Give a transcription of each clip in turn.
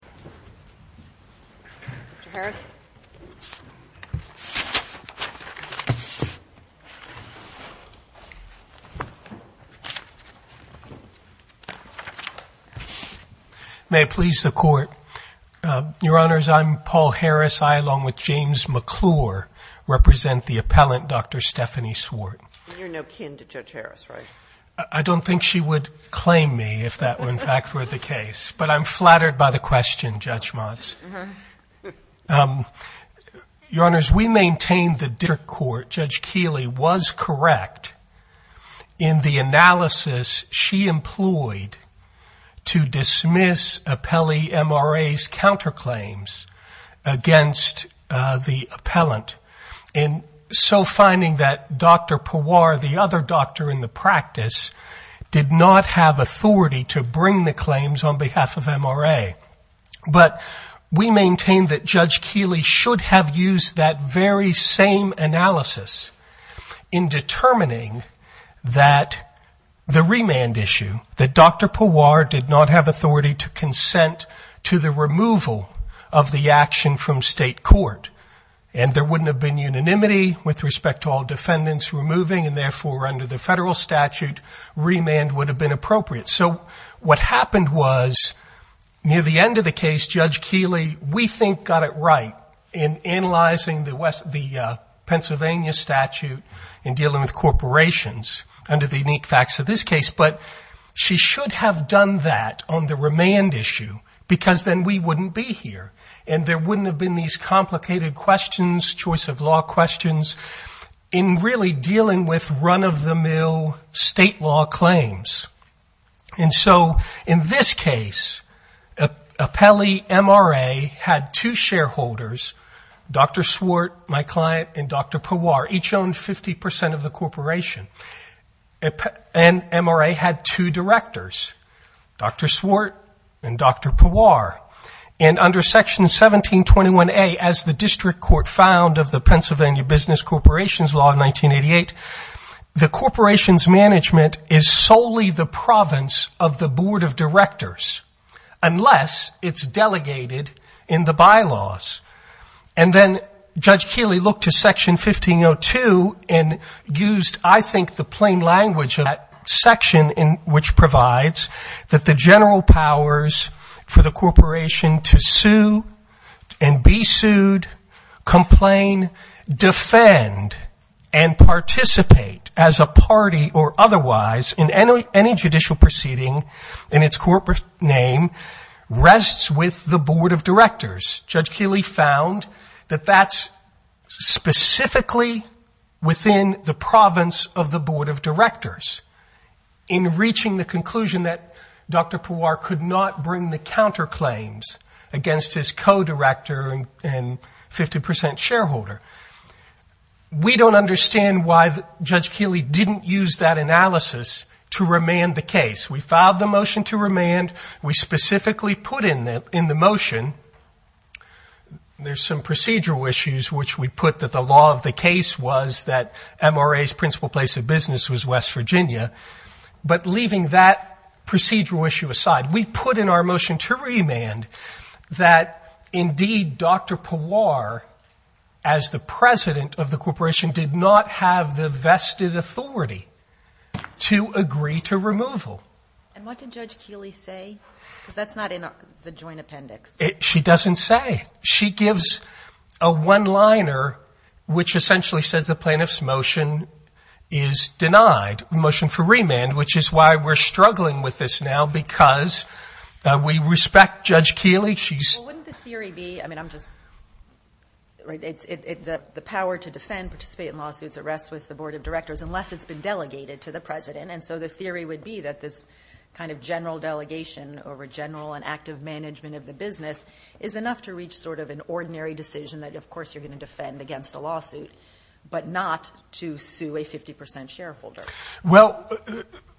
Paul Harris May it please the Court, Your Honors, I'm Paul Harris. I, along with James McClure, represent the appellant, Dr. Stephanie Swart. And you're no kin to Judge Harris, right? I don't think she would claim me if that were in fact the case. But I'm flattered by the question, Judge Motz. Your Honors, we maintain the district court, Judge Keeley, was correct in the analysis she employed to dismiss appellee MRA's counterclaims against the appellant. And so finding that Dr. Pawar, the other doctor in the practice, did not have authority to But we maintain that Judge Keeley should have used that very same analysis in determining that the remand issue, that Dr. Pawar did not have authority to consent to the removal of the action from state court. And there wouldn't have been unanimity with respect to all defendants removing and therefore under the federal statute, remand would have been appropriate. So what happened was near the end of the case, Judge Keeley, we think got it right in analyzing the Pennsylvania statute in dealing with corporations under the unique facts of this case. But she should have done that on the remand issue because then we wouldn't be here. And there wouldn't have been these complicated questions, choice of law questions, in really dealing with run-of-the-mill state law claims. And so in this case, appellee MRA had two shareholders, Dr. Swart, my client, and Dr. Pawar, each owned 50% of the corporation. And MRA had two directors, Dr. Swart and Dr. Pawar. And under Section 1721A, as the district court found of the Pennsylvania Business Corporations Law of 1988, the corporation's management is solely the province of the board of directors, unless it's delegated in the bylaws. And then Judge Keeley looked to Section 1502 and used, I think, the plain language of that section, which provides that the general powers for the corporation to sue and be sued, complain, defend, and participate as a party or otherwise in any judicial proceeding in its corporate name rests with the board of directors. Judge Keeley found that that's specifically within the province of the board of directors. In reaching the conclusion that Dr. Pawar could not bring the counterclaims against his co-director and 50% shareholder, we don't understand why Judge Keeley didn't use that analysis to remand the case. We filed the motion to remand. We specifically put in the motion, there's some procedural issues, which we put that the law of the case was that MRA's principal place of business was West Virginia. But leaving that procedural issue aside, we put in our motion to remand that, indeed, Dr. Pawar, as the president of the corporation, did not have the vested authority to agree to removal. And what did Judge Keeley say? Because that's not in the joint appendix. She doesn't say. She gives a one-liner which essentially says the plaintiff's motion is denied. Motion for remand, which is why we're struggling with this now, because we respect Judge Keeley. She's... Well, wouldn't the theory be, I mean, I'm just... The power to defend, participate in lawsuits, it rests with the board of directors, unless it's been delegated to the president. And so the theory would be that this kind of general delegation over general and active management of the business is enough to reach sort of an ordinary decision that, of course, you're going to defend against a lawsuit, but not to sue a 50% shareholder. Well,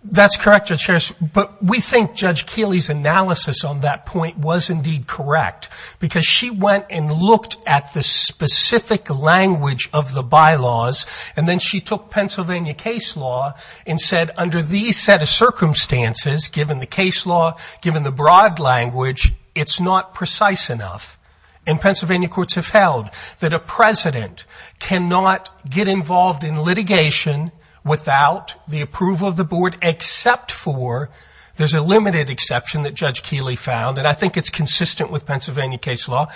that's correct, Judge Harris, but we think Judge Keeley's analysis on that point was, indeed, correct, because she went and looked at the specific language of the bylaws, and then she took Pennsylvania case law and said, under these set of circumstances, given the case law, given the broad language, it's not precise enough. And Pennsylvania courts have held that a president cannot get involved in litigation without the approval of the board, except for, there's a limited exception that Judge Keeley found, and I think it's consistent with Pennsylvania case law,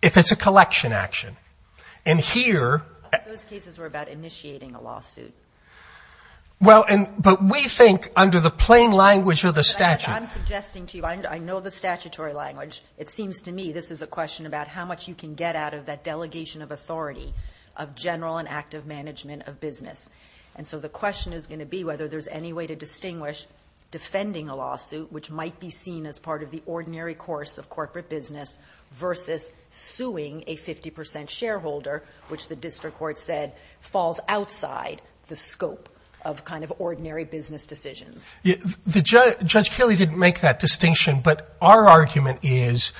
if it's a collection action. And here... Those cases were about initiating a lawsuit. Well, but we think, under the plain language of the statute... This is a question about how much you can get out of that delegation of authority of general and active management of business. And so the question is going to be whether there's any way to distinguish defending a lawsuit, which might be seen as part of the ordinary course of corporate business, versus suing a 50% shareholder, which the district court said falls outside the scope of kind of ordinary business decisions. The Judge Keeley didn't make that distinction, but our argument is,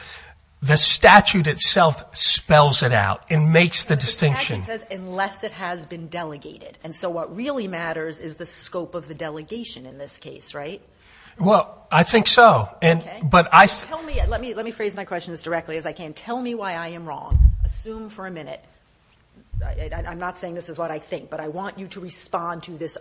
the statute itself spells it out and makes the distinction. The statute says, unless it has been delegated. And so what really matters is the scope of the delegation in this case, right? Well, I think so. And, but I... Tell me, let me, let me phrase my question as directly as I can. Tell me why I am wrong. Assume for a minute, I'm not saying this is what I think, but I want you to respond to this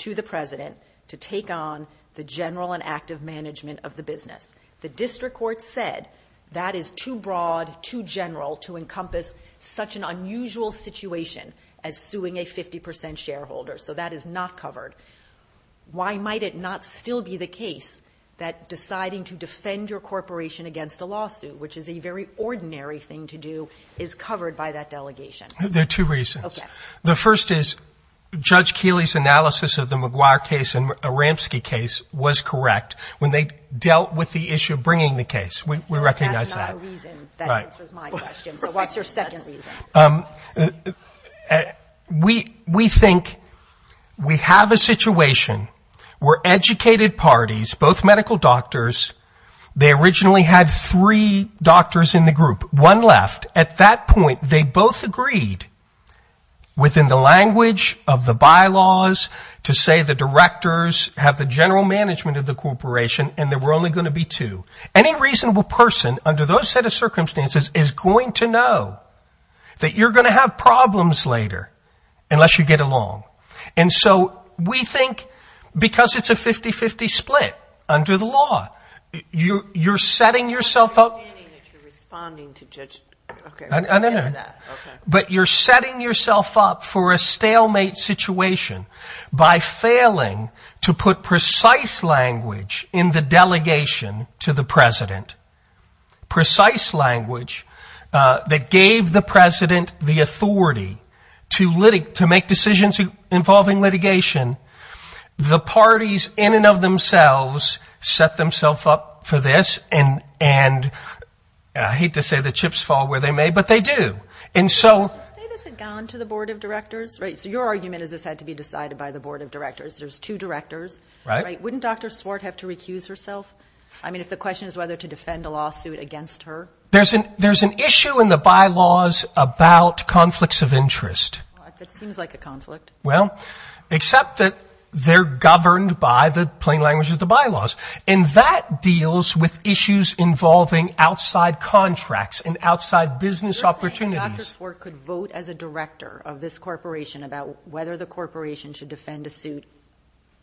to the president to take on the general and active management of the business. The district court said that is too broad, too general to encompass such an unusual situation as suing a 50% shareholder. So that is not covered. Why might it not still be the case that deciding to defend your corporation against a lawsuit, which is a very ordinary thing to do, is covered by that delegation? There are two reasons. Okay. The first is Judge Keeley's analysis of the McGuire case and Aramski case was correct when they dealt with the issue of bringing the case. We recognize that. That's not a reason. That answers my question. So what's your second reason? We, we think we have a situation where educated parties, both medical doctors, they originally had three doctors in the group, one left. At that point, they both agreed within the language of the bylaws to say the directors have the general management of the corporation and there were only going to be two. Any reasonable person under those set of circumstances is going to know that you're going to have problems later unless you get along. And so we think because it's a 50-50 split under the law, you're, you're setting yourself up. I'm not understanding that you're responding to Judge Keeley. No, no, no. But you're setting yourself up for a stalemate situation by failing to put precise language in the delegation to the president. Precise language that gave the president the authority to make decisions involving litigation. The parties in and of themselves set themselves up for this and, and I hate to say the chips fall where they may, but they do. And so. Say this had gone to the board of directors, right? So your argument is this had to be decided by the board of directors. There's two directors, right? Wouldn't Dr. Swart have to recuse herself? I mean, if the question is whether to defend a lawsuit against her. There's an, there's an issue in the bylaws about conflicts of interest. That seems like a conflict. Well, except that they're governed by the plain language of the bylaws and that deals with issues involving outside contracts and outside business opportunities. Dr. Swart could vote as a director of this corporation about whether the corporation should defend a suit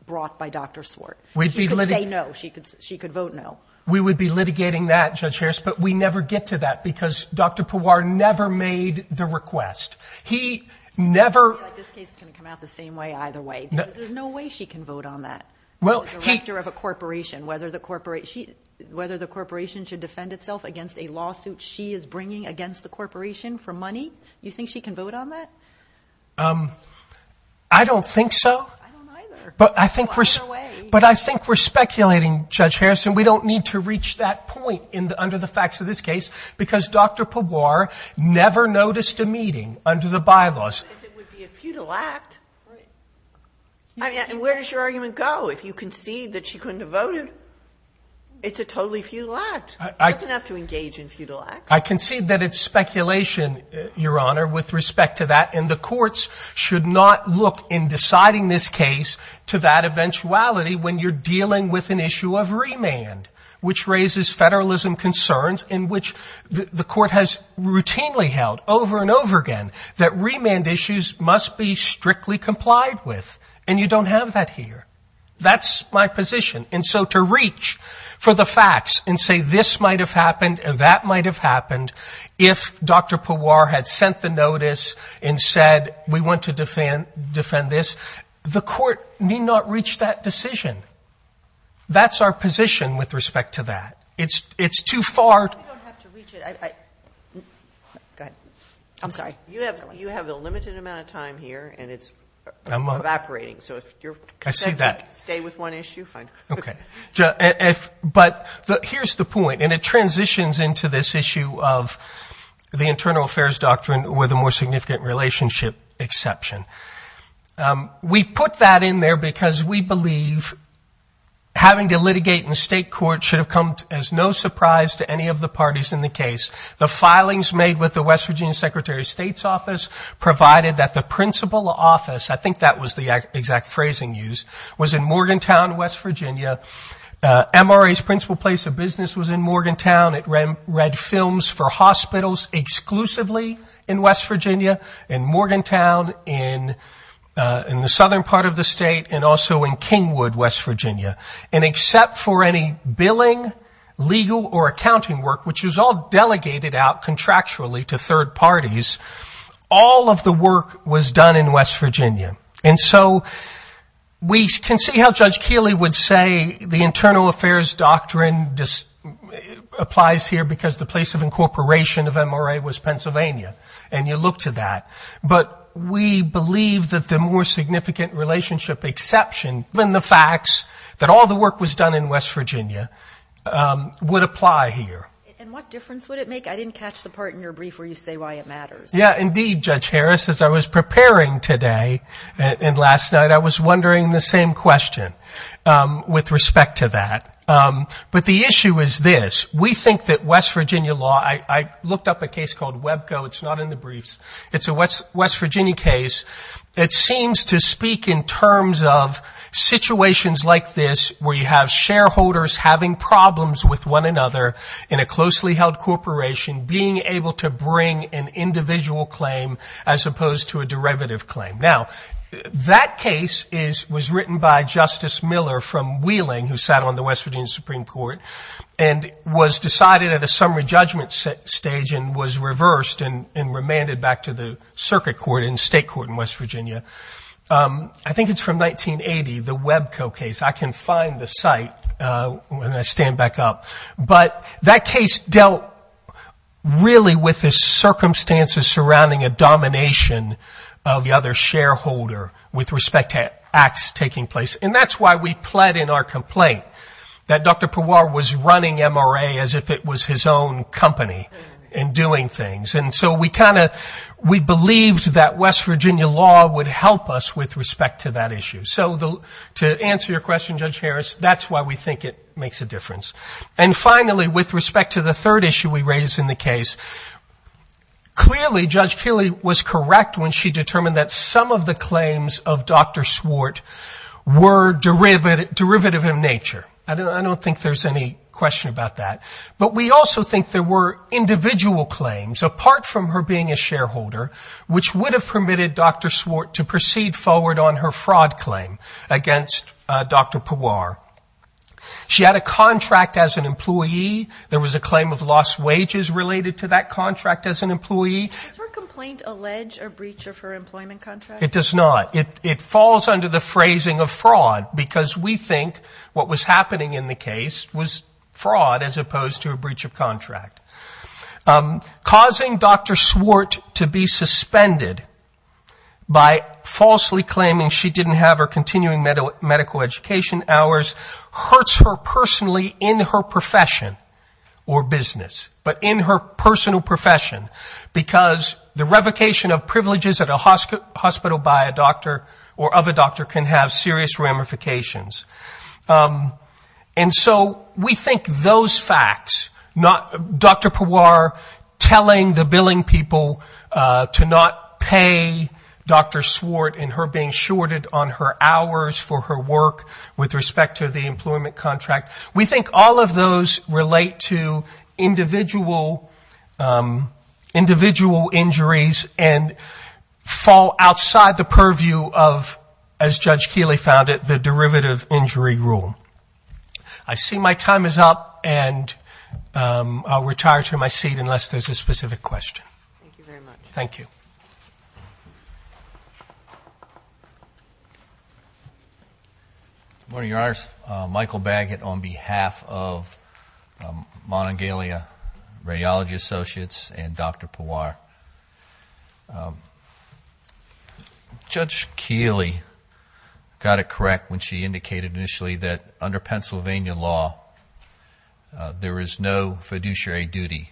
brought by Dr. Swart. She could say no, she could, she could vote no. We would be litigating that Judge Harris, but we never get to that because Dr. Pawar never made the request. He never. I feel like this case is going to come out the same way either way, because there's no way she can vote on that. Well, he. As a director of a corporation, whether the corporation, whether the corporation should defend itself against a lawsuit she is bringing against the corporation for money. You think she can vote on that? I don't think so. I don't either. But I think we're, but I think we're speculating, Judge Harrison, we don't need to reach that point under the facts of this case because Dr. Pawar never noticed a meeting under the bylaws. But it would be a futile act. And where does your argument go if you concede that she couldn't have voted? It's a totally futile act. It doesn't have to engage in futile acts. I concede that it's speculation, Your Honor, with respect to that. And the courts should not look in deciding this case to that eventuality when you're federalism concerns in which the court has routinely held over and over again that remand issues must be strictly complied with. And you don't have that here. That's my position. And so to reach for the facts and say this might have happened and that might have happened if Dr. Pawar had sent the notice and said we want to defend this, the court need not reach that decision. That's our position with respect to that. It's too far. You don't have to reach it. Go ahead. I'm sorry. You have a limited amount of time here. And it's evaporating. So if you stay with one issue, fine. OK. But here's the point. And it transitions into this issue of the internal affairs doctrine with a more significant relationship exception. We put that in there because we believe having to litigate in state court should have come as no surprise to any of the parties in the case. The filings made with the West Virginia Secretary of State's office provided that the principal office, I think that was the exact phrasing used, was in Morgantown, West Virginia. MRA's principal place of business was in Morgantown. It read films for hospitals exclusively in West Virginia, in Morgantown, in the southern part of the state, and also in Kingwood, West Virginia. And except for any billing, legal, or accounting work, which is all delegated out contractually to third parties, all of the work was done in West Virginia. And so we can see how Judge Kealy would say the internal affairs doctrine applies here because the place of incorporation of MRA was Pennsylvania. And you look to that. But we believe that the more significant relationship exception in the facts that all the work was done in West Virginia would apply here. And what difference would it make? I didn't catch the part in your brief where you say why it matters. Yeah, indeed, Judge Harris, as I was preparing today and last night, I was wondering the same question with respect to that. But the issue is this. We think that West Virginia law, I looked up a case called Webco. It's not in the briefs. It's a West Virginia case. It seems to speak in terms of situations like this where you have shareholders having problems with one another in a closely held corporation being able to bring an individual claim as opposed to a derivative claim. Now, that case was written by Justice Miller from Wheeling, who sat on the West Virginia Supreme Court, and was decided at a summary judgment stage and was reversed and remanded back to the circuit court and state court in West Virginia. I think it's from 1980, the Webco case. I can find the site when I stand back up. But that case dealt really with the circumstances surrounding a domination of the other shareholder with respect to acts taking place. And that's why we pled in our complaint that Dr. Pewar was running MRA as if it was his own company and doing things. And so we kind of, we believed that West Virginia law would help us with respect to that issue. So to answer your question, Judge Harris, that's why we think it makes a difference. And finally, with respect to the third issue we raised in the case, clearly Judge Keeley was correct when she determined that some of the claims of Dr. Swart were derivative in nature. I don't think there's any question about that. But we also think there were individual claims, apart from her being a shareholder, which would have permitted Dr. Swart to proceed forward on her fraud claim against Dr. Pewar. She had a contract as an employee. There was a claim of lost wages related to that contract as an employee. Does her complaint allege a breach of her employment contract? It does not. It falls under the phrasing of fraud, because we think what was happening in the case was to a breach of contract. Causing Dr. Swart to be suspended by falsely claiming she didn't have her continuing medical education hours hurts her personally in her profession or business, but in her personal profession, because the revocation of privileges at a hospital by a doctor or of a doctor can have serious ramifications. And so we think those facts, Dr. Pewar telling the billing people to not pay Dr. Swart and her being shorted on her hours for her work with respect to the employment contract, we think all of those relate to individual injuries and fall outside the purview of, as Judge Keeley said, the injury rule. I see my time is up, and I'll retire to my seat unless there's a specific question. Thank you very much. Thank you. Good morning, Your Honors. Michael Baggett on behalf of Monongalia Radiology Associates and Dr. Pewar. Judge Keeley got it correct when she indicated initially that under Pennsylvania law, there is no fiduciary duty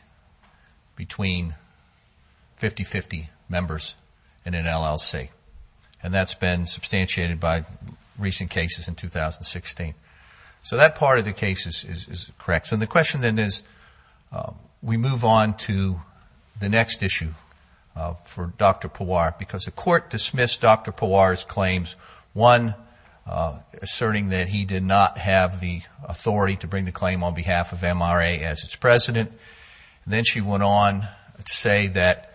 between 50-50 members in an LLC, and that's been substantiated by recent cases in 2016. So that part of the case is correct. The question then is, we move on to the next issue for Dr. Pewar because the court dismissed Dr. Pewar's claims, one, asserting that he did not have the authority to bring the claim on behalf of MRA as its president. Then she went on to say that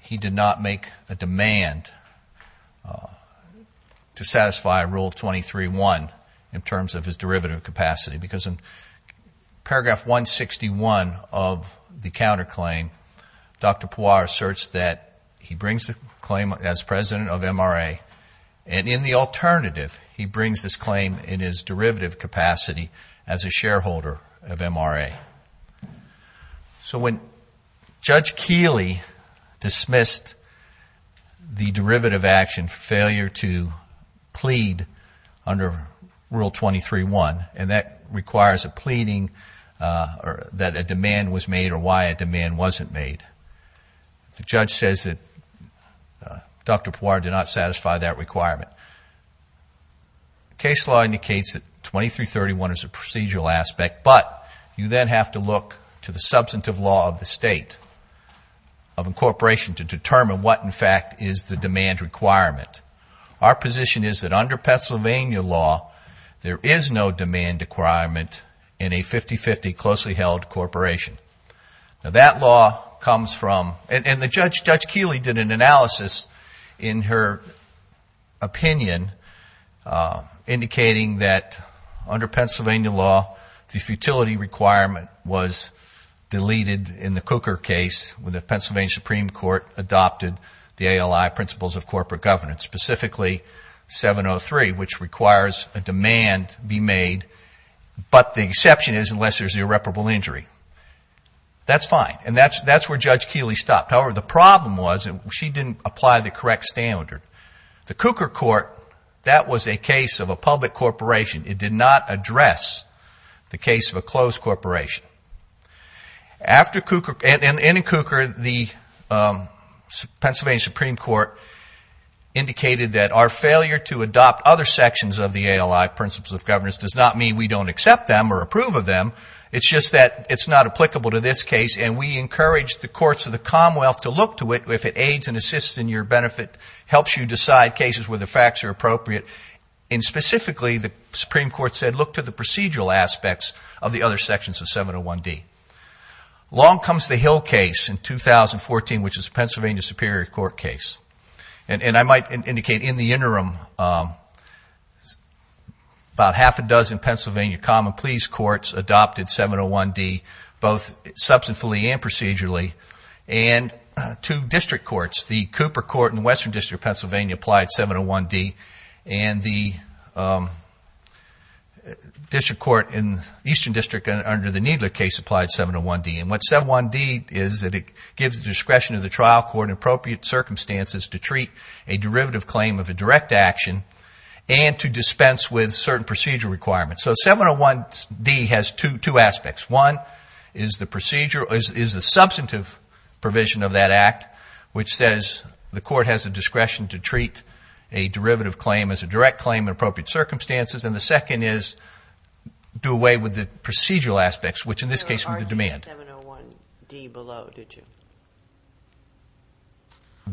he did not make a demand to satisfy Rule 23-1 in terms of his derivative capacity because in paragraph 161 of the counterclaim, Dr. Pewar asserts that he brings the claim as president of MRA, and in the alternative, he brings this claim in his derivative capacity as a shareholder of MRA. So when Judge Keeley dismissed the derivative action failure to plead under Rule 23-1, and that requires a pleading that a demand was made or why a demand wasn't made, the judge says that Dr. Pewar did not satisfy that requirement. The case law indicates that 23-31 is a procedural aspect, but you then have to look to the substantive law of the state of incorporation to determine what, in fact, is the demand requirement. Our position is that under Pennsylvania law, there is no demand requirement in a 50-50 closely held corporation. Now that law comes from, and Judge Keeley did an analysis in her opinion indicating that under Pennsylvania law, the futility requirement was deleted in the Cooker case when the Pennsylvania Supreme Court adopted the ALI principles of corporate governance, specifically 703, which requires a demand be made, but the exception is unless there's irreparable injury. That's fine, and that's where Judge Keeley stopped. However, the problem was she didn't apply the correct standard. The Cooker court, that was a case of a public corporation. It did not address the case of a closed corporation. In Cooker, the Pennsylvania Supreme Court indicated that our failure to adopt other sections of the ALI principles of governance does not mean we don't accept them or approve of them. It's just that it's not applicable to this case, and we encourage the courts of the Commonwealth to look to it if it aids and assists in your benefit, helps you decide cases where the facts are appropriate, and specifically, the Supreme Court said, look to the procedural aspects of the other sections of 701D. Long comes the Hill case in 2014, which is a Pennsylvania Superior Court case, and I might indicate in the interim, about half a dozen Pennsylvania common pleas courts adopted 701D, both substantively and procedurally, and two district courts. The Cooper court in the Western District of Pennsylvania applied 701D, and the district court in the Eastern District under the Needler case applied 701D, and what 701D is that it gives the discretion of the trial court in appropriate circumstances to treat a derivative claim of a direct action and to dispense with certain procedural requirements. So 701D has two aspects. One is the procedure, is the substantive provision of that act, which says the court has a discretion to treat a derivative claim as a direct claim in appropriate circumstances, and the second is do away with the procedural aspects, which in this case were the demand. There was already a 701D below, did you?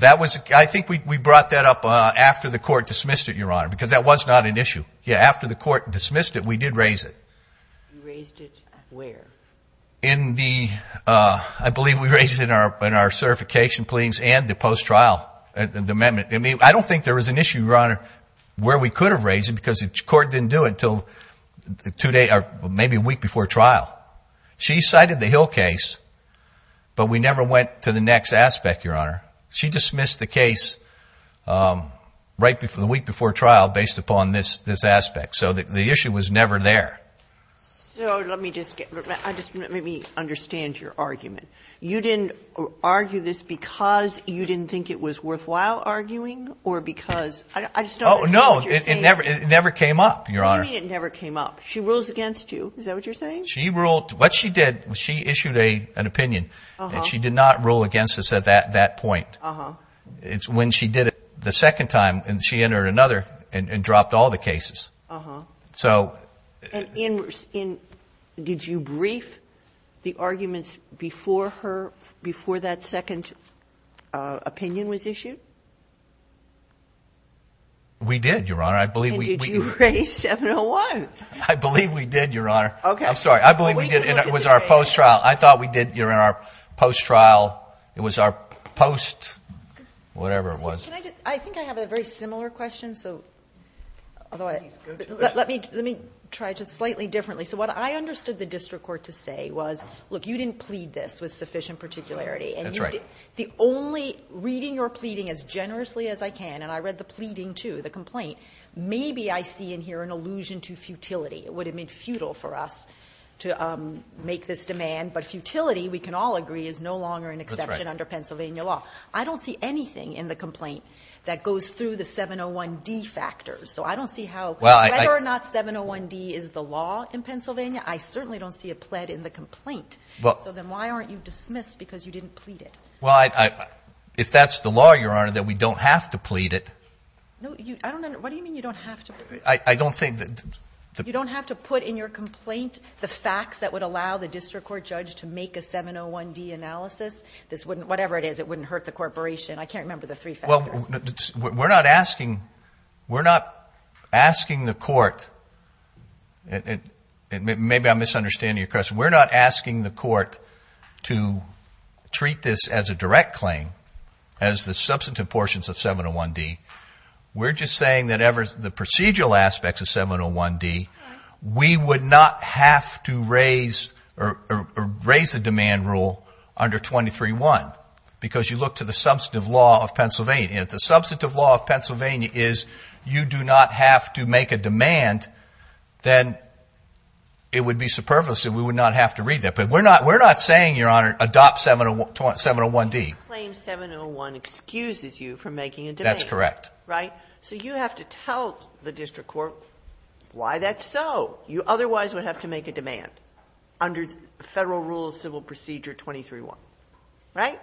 I think we brought that up after the court dismissed it, Your Honor, because that was not an issue. After the court dismissed it, we did raise it. You raised it where? I believe we raised it in our certification pleadings and the post-trial amendment. I don't think there was an issue, Your Honor, where we could have raised it because the court didn't do it until maybe a week before trial. She cited the Hill case, but we never went to the next aspect, Your Honor. She dismissed the case right before, the week before trial based upon this aspect. So the issue was never there. So let me just get, let me understand your argument. You didn't argue this because you didn't think it was worthwhile arguing or because I just don't understand what you're saying. No, it never came up, Your Honor. What do you mean it never came up? She rules against you, is that what you're saying? She ruled, what she did, she issued an opinion and she did not rule against us at that point. It's when she did it the second time and she entered another and dropped all the cases. So. Did you brief the arguments before her, before that second opinion was issued? We did, Your Honor. I believe we. Did you raise 701? I believe we did, Your Honor. Okay. I'm sorry. I believe we did and it was our post-trial. I thought we did, Your Honor, post-trial. It was our post, whatever it was. Can I just, I think I have a very similar question, so. Although I, let me, let me try just slightly differently. So what I understood the district court to say was, look, you didn't plead this with sufficient particularity. That's right. The only, reading your pleading as generously as I can, and I read the pleading too, the complaint, maybe I see in here an allusion to futility. Would it mean futile for us to make this demand? But futility, we can all agree, is no longer an exception under Pennsylvania law. I don't see anything in the complaint that goes through the 701D factors. So I don't see how, whether or not 701D is the law in Pennsylvania, I certainly don't see a pled in the complaint. So then why aren't you dismissed because you didn't plead it? Well, if that's the law, Your Honor, that we don't have to plead it. No, you, I don't, what do you mean you don't have to? I don't think that. You don't have to put in your complaint the facts that would allow the district court judge to make a 701D analysis. This wouldn't, whatever it is, it wouldn't hurt the corporation. I can't remember the three factors. Well, we're not asking, we're not asking the court, and maybe I'm misunderstanding your question, we're not asking the court to treat this as a direct claim, as the substantive portions of 701D. We're just saying that ever, the procedural aspects of 701D, we would not have to raise the demand rule under 23-1 because you look to the substantive law of Pennsylvania. If the substantive law of Pennsylvania is you do not have to make a demand, then it would be superfluous and we would not have to read that. But we're not, we're not saying, Your Honor, adopt 701D. The claim 701 excuses you from making a demand. That's correct. Right? So you have to tell the district court why that's so. You otherwise would have to make a demand under Federal Rules Civil Procedure 23-1. Right?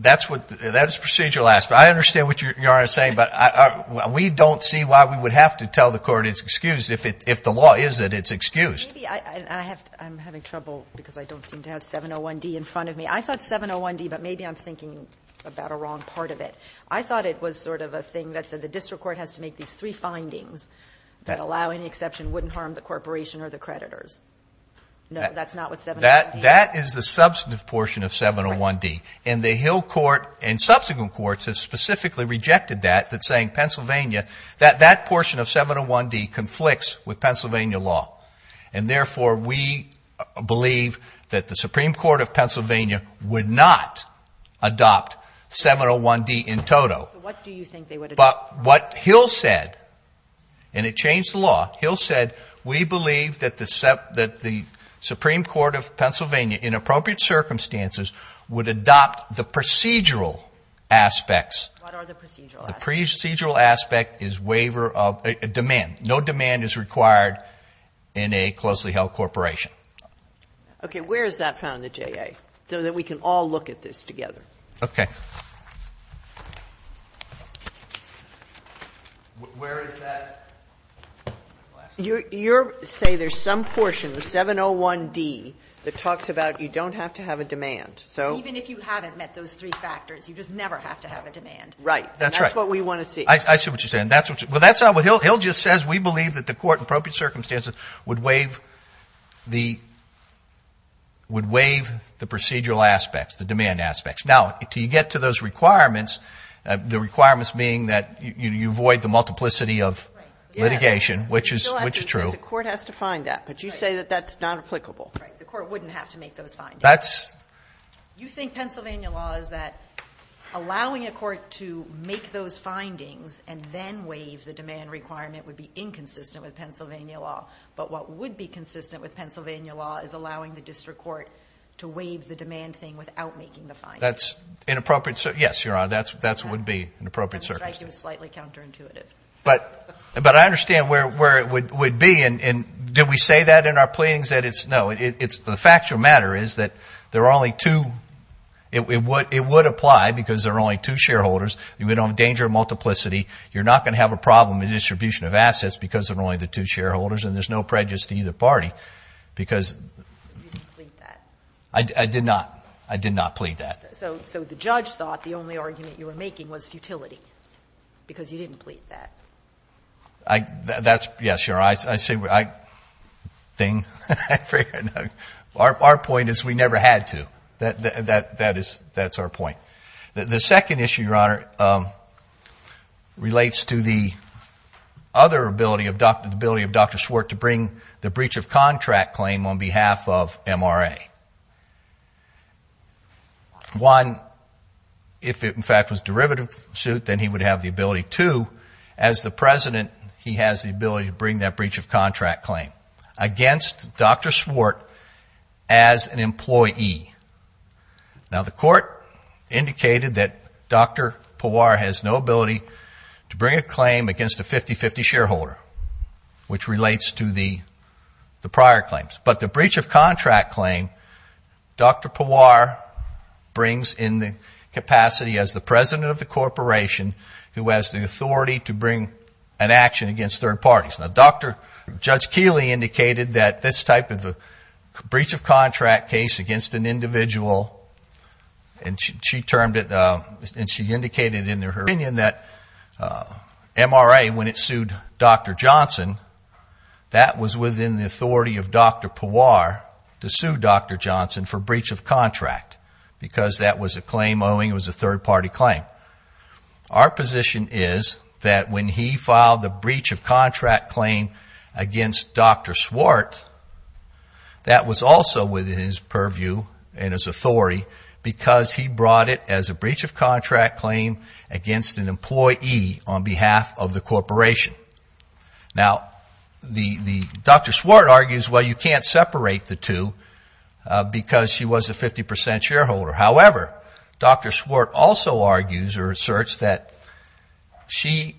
That's what, that is procedural aspect. I understand what Your Honor is saying, but we don't see why we would have to tell the court it's excused if the law is that it's excused. Maybe I have, I'm having trouble because I don't seem to have 701D in front of me. I thought 701D, but maybe I'm thinking about a wrong part of it. I thought it was sort of a thing that said the district court has to make these three findings that allow any exception, wouldn't harm the corporation or the creditors. No, that's not what 701D is. That is the substantive portion of 701D. And the Hill court and subsequent courts have specifically rejected that, that saying Pennsylvania, that portion of 701D conflicts with Pennsylvania law. And therefore we believe that the Supreme Court of Pennsylvania would not adopt 701D in total. So what do you think they would adopt? But what Hill said, and it changed the law, Hill said, we believe that the Supreme Court of Pennsylvania in appropriate circumstances would adopt the procedural aspects. What are the procedural aspects? The procedural aspect is waiver of, demand. No demand is required in a closely held corporation. Okay. Where is that found at JA? So that we can all look at this together. Okay. Where is that? You're saying there's some portion of 701D that talks about you don't have to have a demand. So even if you haven't met those three factors, you just never have to have a demand. Right. That's right. That's what we want to see. I see what you're saying. Well, that's not what Hill just says. We believe that the court in appropriate circumstances would waive the procedural aspects, the demand aspects. Now, until you get to those requirements, the requirements being that you avoid the multiplicity of litigation, which is true. The court has to find that. But you say that that's not applicable. Right. The court wouldn't have to make those findings. You think Pennsylvania law is that allowing a court to make those findings and then waive the demand requirement would be inconsistent with Pennsylvania law. But what would be consistent with Pennsylvania law is allowing the district court to waive the demand thing without making the findings. That's inappropriate. Yes, Your Honor. That would be inappropriate circumstances. I'm striking it as slightly counterintuitive. But I understand where it would be. Did we say that in our pleadings? The fact of the matter is that it would apply because there are only two shareholders. You don't endanger multiplicity. You're not going to have a problem in distribution of assets because of only the two shareholders. And there's no prejudice to either party. Because I did not. I did not plead that. So the judge thought the only argument you were making was futility. Because you didn't plead that. That's yes, Your Honor. I think our point is we never had to. That's our point. The second issue, Your Honor, relates to the other ability of Dr. Swart to bring the breach of contract claim on behalf of MRA. One, if it, in fact, was derivative suit, then he would have the ability. Two, as the president, he has the ability to bring that breach of contract claim against Dr. Swart as an employee. Now, the court indicated that Dr. Pawar has no ability to bring a claim against a 50-50 shareholder, which relates to the prior claims. But the breach of contract claim, Dr. Pawar brings in the capacity as the president of the corporation who has the authority to bring an action against third parties. Now, Judge Keeley indicated that this type of a breach of contract case against an employee an individual, and she termed it, and she indicated in her opinion that MRA, when it sued Dr. Johnson, that was within the authority of Dr. Pawar to sue Dr. Johnson for breach of contract because that was a claim owing, it was a third-party claim. Our position is that when he filed the breach of contract claim against Dr. Swart, that was also within his purview and his authority because he brought it as a breach of contract claim against an employee on behalf of the corporation. Now, Dr. Swart argues, well, you can't separate the two because she was a 50% shareholder. However, Dr. Swart also argues or asserts that she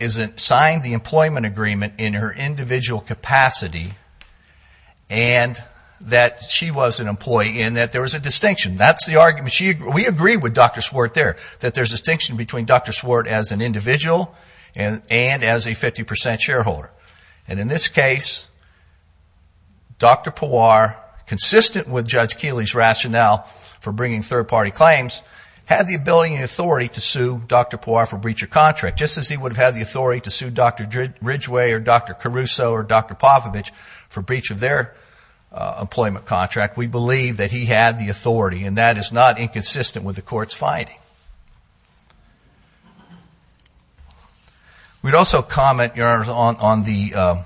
isn't signed the employment agreement in her individual capacity and that she was an employee and that there was a distinction. That's the argument. We agree with Dr. Swart there, that there's a distinction between Dr. Swart as an individual and as a 50% shareholder. And in this case, Dr. Pawar, consistent with Judge Keeley's rationale for bringing third-party claims, had the ability and authority to sue Dr. Pawar for breach of contract, just as he would have the authority to sue Dr. Ridgway or Dr. Caruso or Dr. Popovich for breach of their employment contract. We believe that he had the authority and that is not inconsistent with the Court's finding. We'd also comment, Your Honor, on the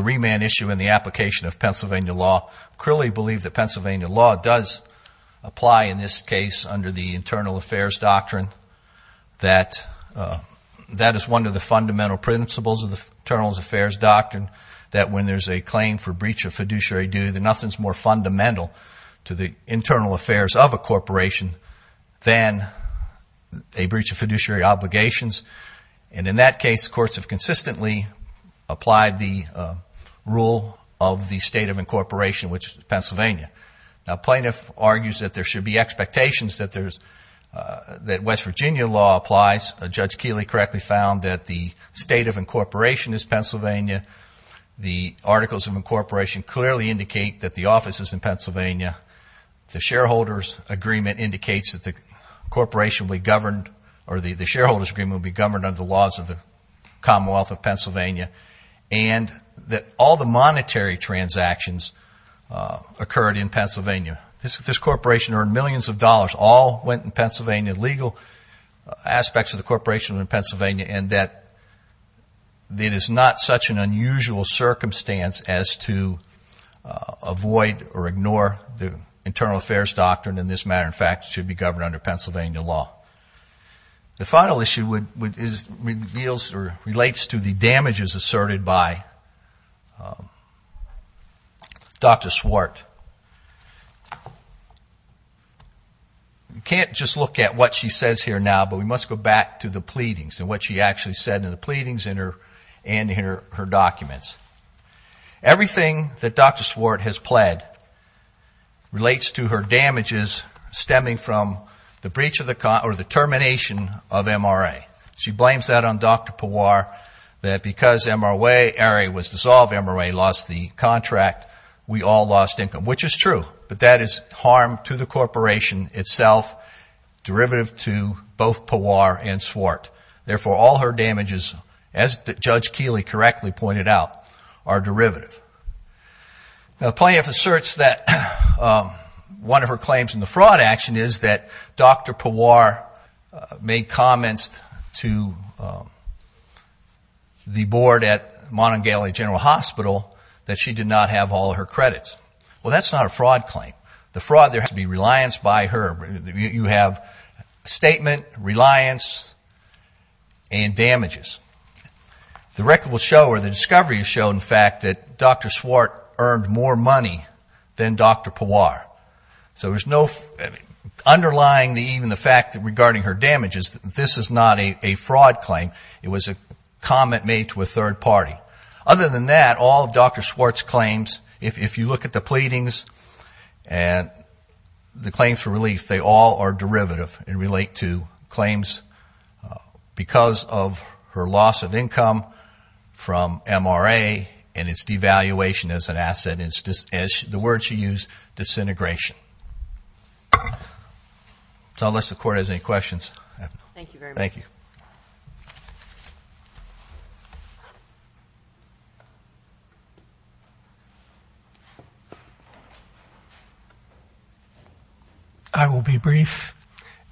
remand issue and the application of Pennsylvania law. Creeley believed that Pennsylvania law does apply in this case under the internal affairs doctrine that that is one of the fundamental principles of the internal affairs doctrine, that when there's a claim for breach of fiduciary duty, that nothing's more fundamental to the internal affairs of a corporation than a breach of fiduciary obligations. And in that case, courts have consistently applied the rule of the state of incorporation, which is Pennsylvania. Now, plaintiff argues that there should be expectations that West Virginia law applies. Judge Keeley correctly found that the state of incorporation is Pennsylvania. The articles of incorporation clearly indicate that the office is in Pennsylvania. The shareholders agreement indicates that the corporation will be governed or the shareholders agreement will be governed under the laws of the Commonwealth of Pennsylvania. And that all the monetary transactions occurred in Pennsylvania. This corporation earned millions of dollars. All went in Pennsylvania. Legal aspects of the corporation are in Pennsylvania. And that it is not such an unusual circumstance as to avoid or ignore the internal affairs doctrine in this matter. In fact, it should be governed under Pennsylvania law. The final issue relates to the damages asserted by Dr. Swart. You can't just look at what she says here now, but we must go back to the pleadings and what she actually said in the pleadings and in her documents. Everything that Dr. Swart has pled relates to her damages stemming from the breach of the termination of MRA. She blames that on Dr. Pawar that because MRA was dissolved, MRA lost the contract. We all lost income, which is true. But that is harm to the corporation itself, derivative to both Pawar and Swart. Therefore, all her damages, as Judge Keeley correctly pointed out, are derivative. Now, Planoff asserts that one of her claims in the fraud action is that Dr. Pawar made comments to the board at Montgomery General Hospital that she did not have all of her credits. Well, that's not a fraud claim. The fraud there has to be reliance by her. You have statement, reliance, and damages. The record will show, or the discovery will show, in fact, that Dr. Swart earned more money than Dr. Pawar. So there's no underlying, even the fact that regarding her damages, this is not a fraud claim. It was a comment made to a third party. Other than that, all of Dr. Swart's claims, if you look at the pleadings and the claims for relief, they all are derivative and relate to claims because of her loss of income from MRA and its devaluation as an asset, the word she used, disintegration. So unless the court has any questions. Thank you very much. Thank you. I will be brief.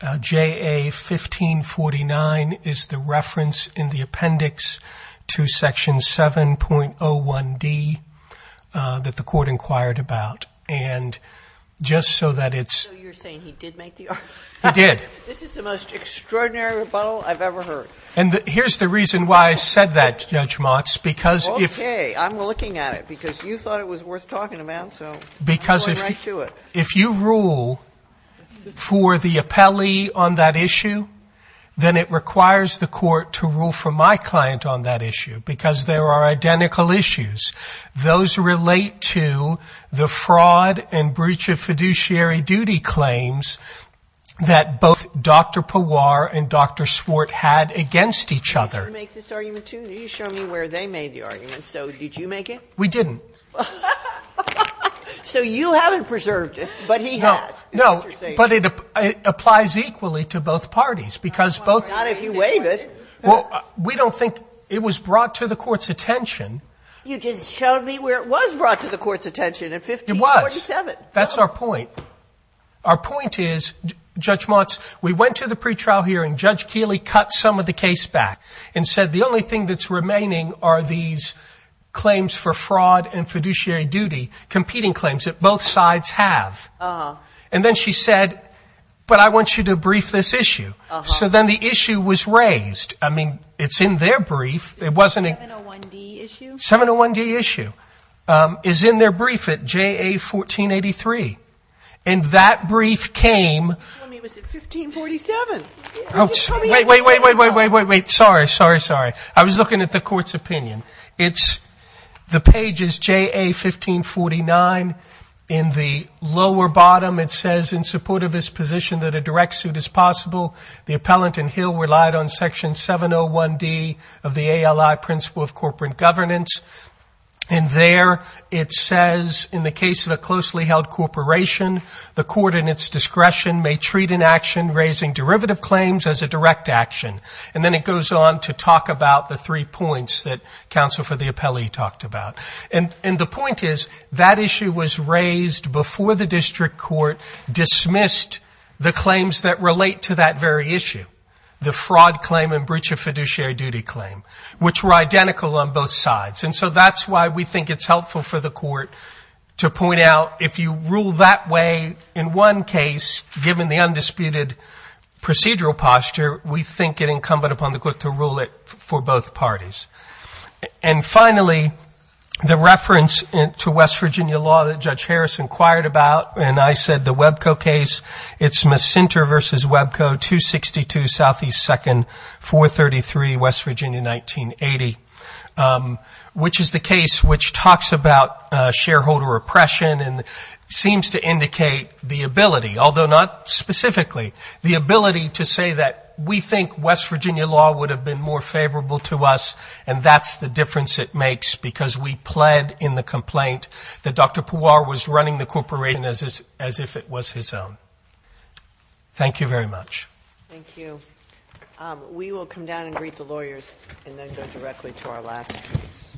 JA 1549 is the reference in the appendix to Section 7.01d that the court inquired about. And just so that it's. So you're saying he did make the argument? He did. This is the most extraordinary rebuttal I've ever heard. And here's the reason why I said that, Judge Motz, because if. Okay, I'm looking at it because you thought it was worth talking about, so I'm going right to it. If you rule for the appellee on that issue, then it requires the court to rule for my client on that issue because there are identical issues. Those relate to the fraud and breach of fiduciary duty claims that both Dr. Pawar and Dr. Swart had against each other. Did you make this argument too? Did you show me where they made the argument? So did you make it? We didn't. So you haven't preserved it, but he has. No, but it applies equally to both parties because both. Not if you waive it. Well, we don't think it was brought to the court's attention. You just showed me where it was brought to the court's attention in 1547. It was. That's our point. Our point is, Judge Motz, we went to the pretrial hearing. Judge Keeley cut some of the case back and said the only thing that's remaining are these unfiduciary duty competing claims that both sides have. And then she said, but I want you to brief this issue. So then the issue was raised. I mean, it's in their brief. It wasn't a 701 D issue is in their brief at JA 1483. And that brief came. I mean, was it 1547? Wait, wait, wait, wait, wait, wait, wait. Sorry, sorry, sorry. I was looking at the court's opinion. The page is JA 1549. In the lower bottom, it says, in support of his position that a direct suit is possible, the appellant and Hill relied on section 701 D of the ALI principle of corporate governance. And there it says, in the case of a closely held corporation, the court in its discretion may treat an action raising derivative claims as a direct action. And then it goes on to talk about the three points that counsel for the appellee talked about. And the point is that issue was raised before the district court dismissed the claims that relate to that very issue, the fraud claim and breach of fiduciary duty claim, which were identical on both sides. And so that's why we think it's helpful for the court to point out if you rule that way, in one case, given the undisputed procedural posture, we think it incumbent upon the court to rule it for both parties. And finally, the reference to West Virginia law that Judge Harris inquired about, and I said the Webco case, it's Macenter v. Webco 262 SE 2nd 433, West Virginia 1980, which is the case which talks about shareholder oppression and seems to indicate the ability, although not specifically, the ability to say that we think West Virginia law would have been more favorable to us, and that's the difference it makes because we pled in the complaint that Dr. Puar was running the corporation as if it was his own. Thank you very much. Thank you. We will come down and greet the lawyers and then go directly to our last case.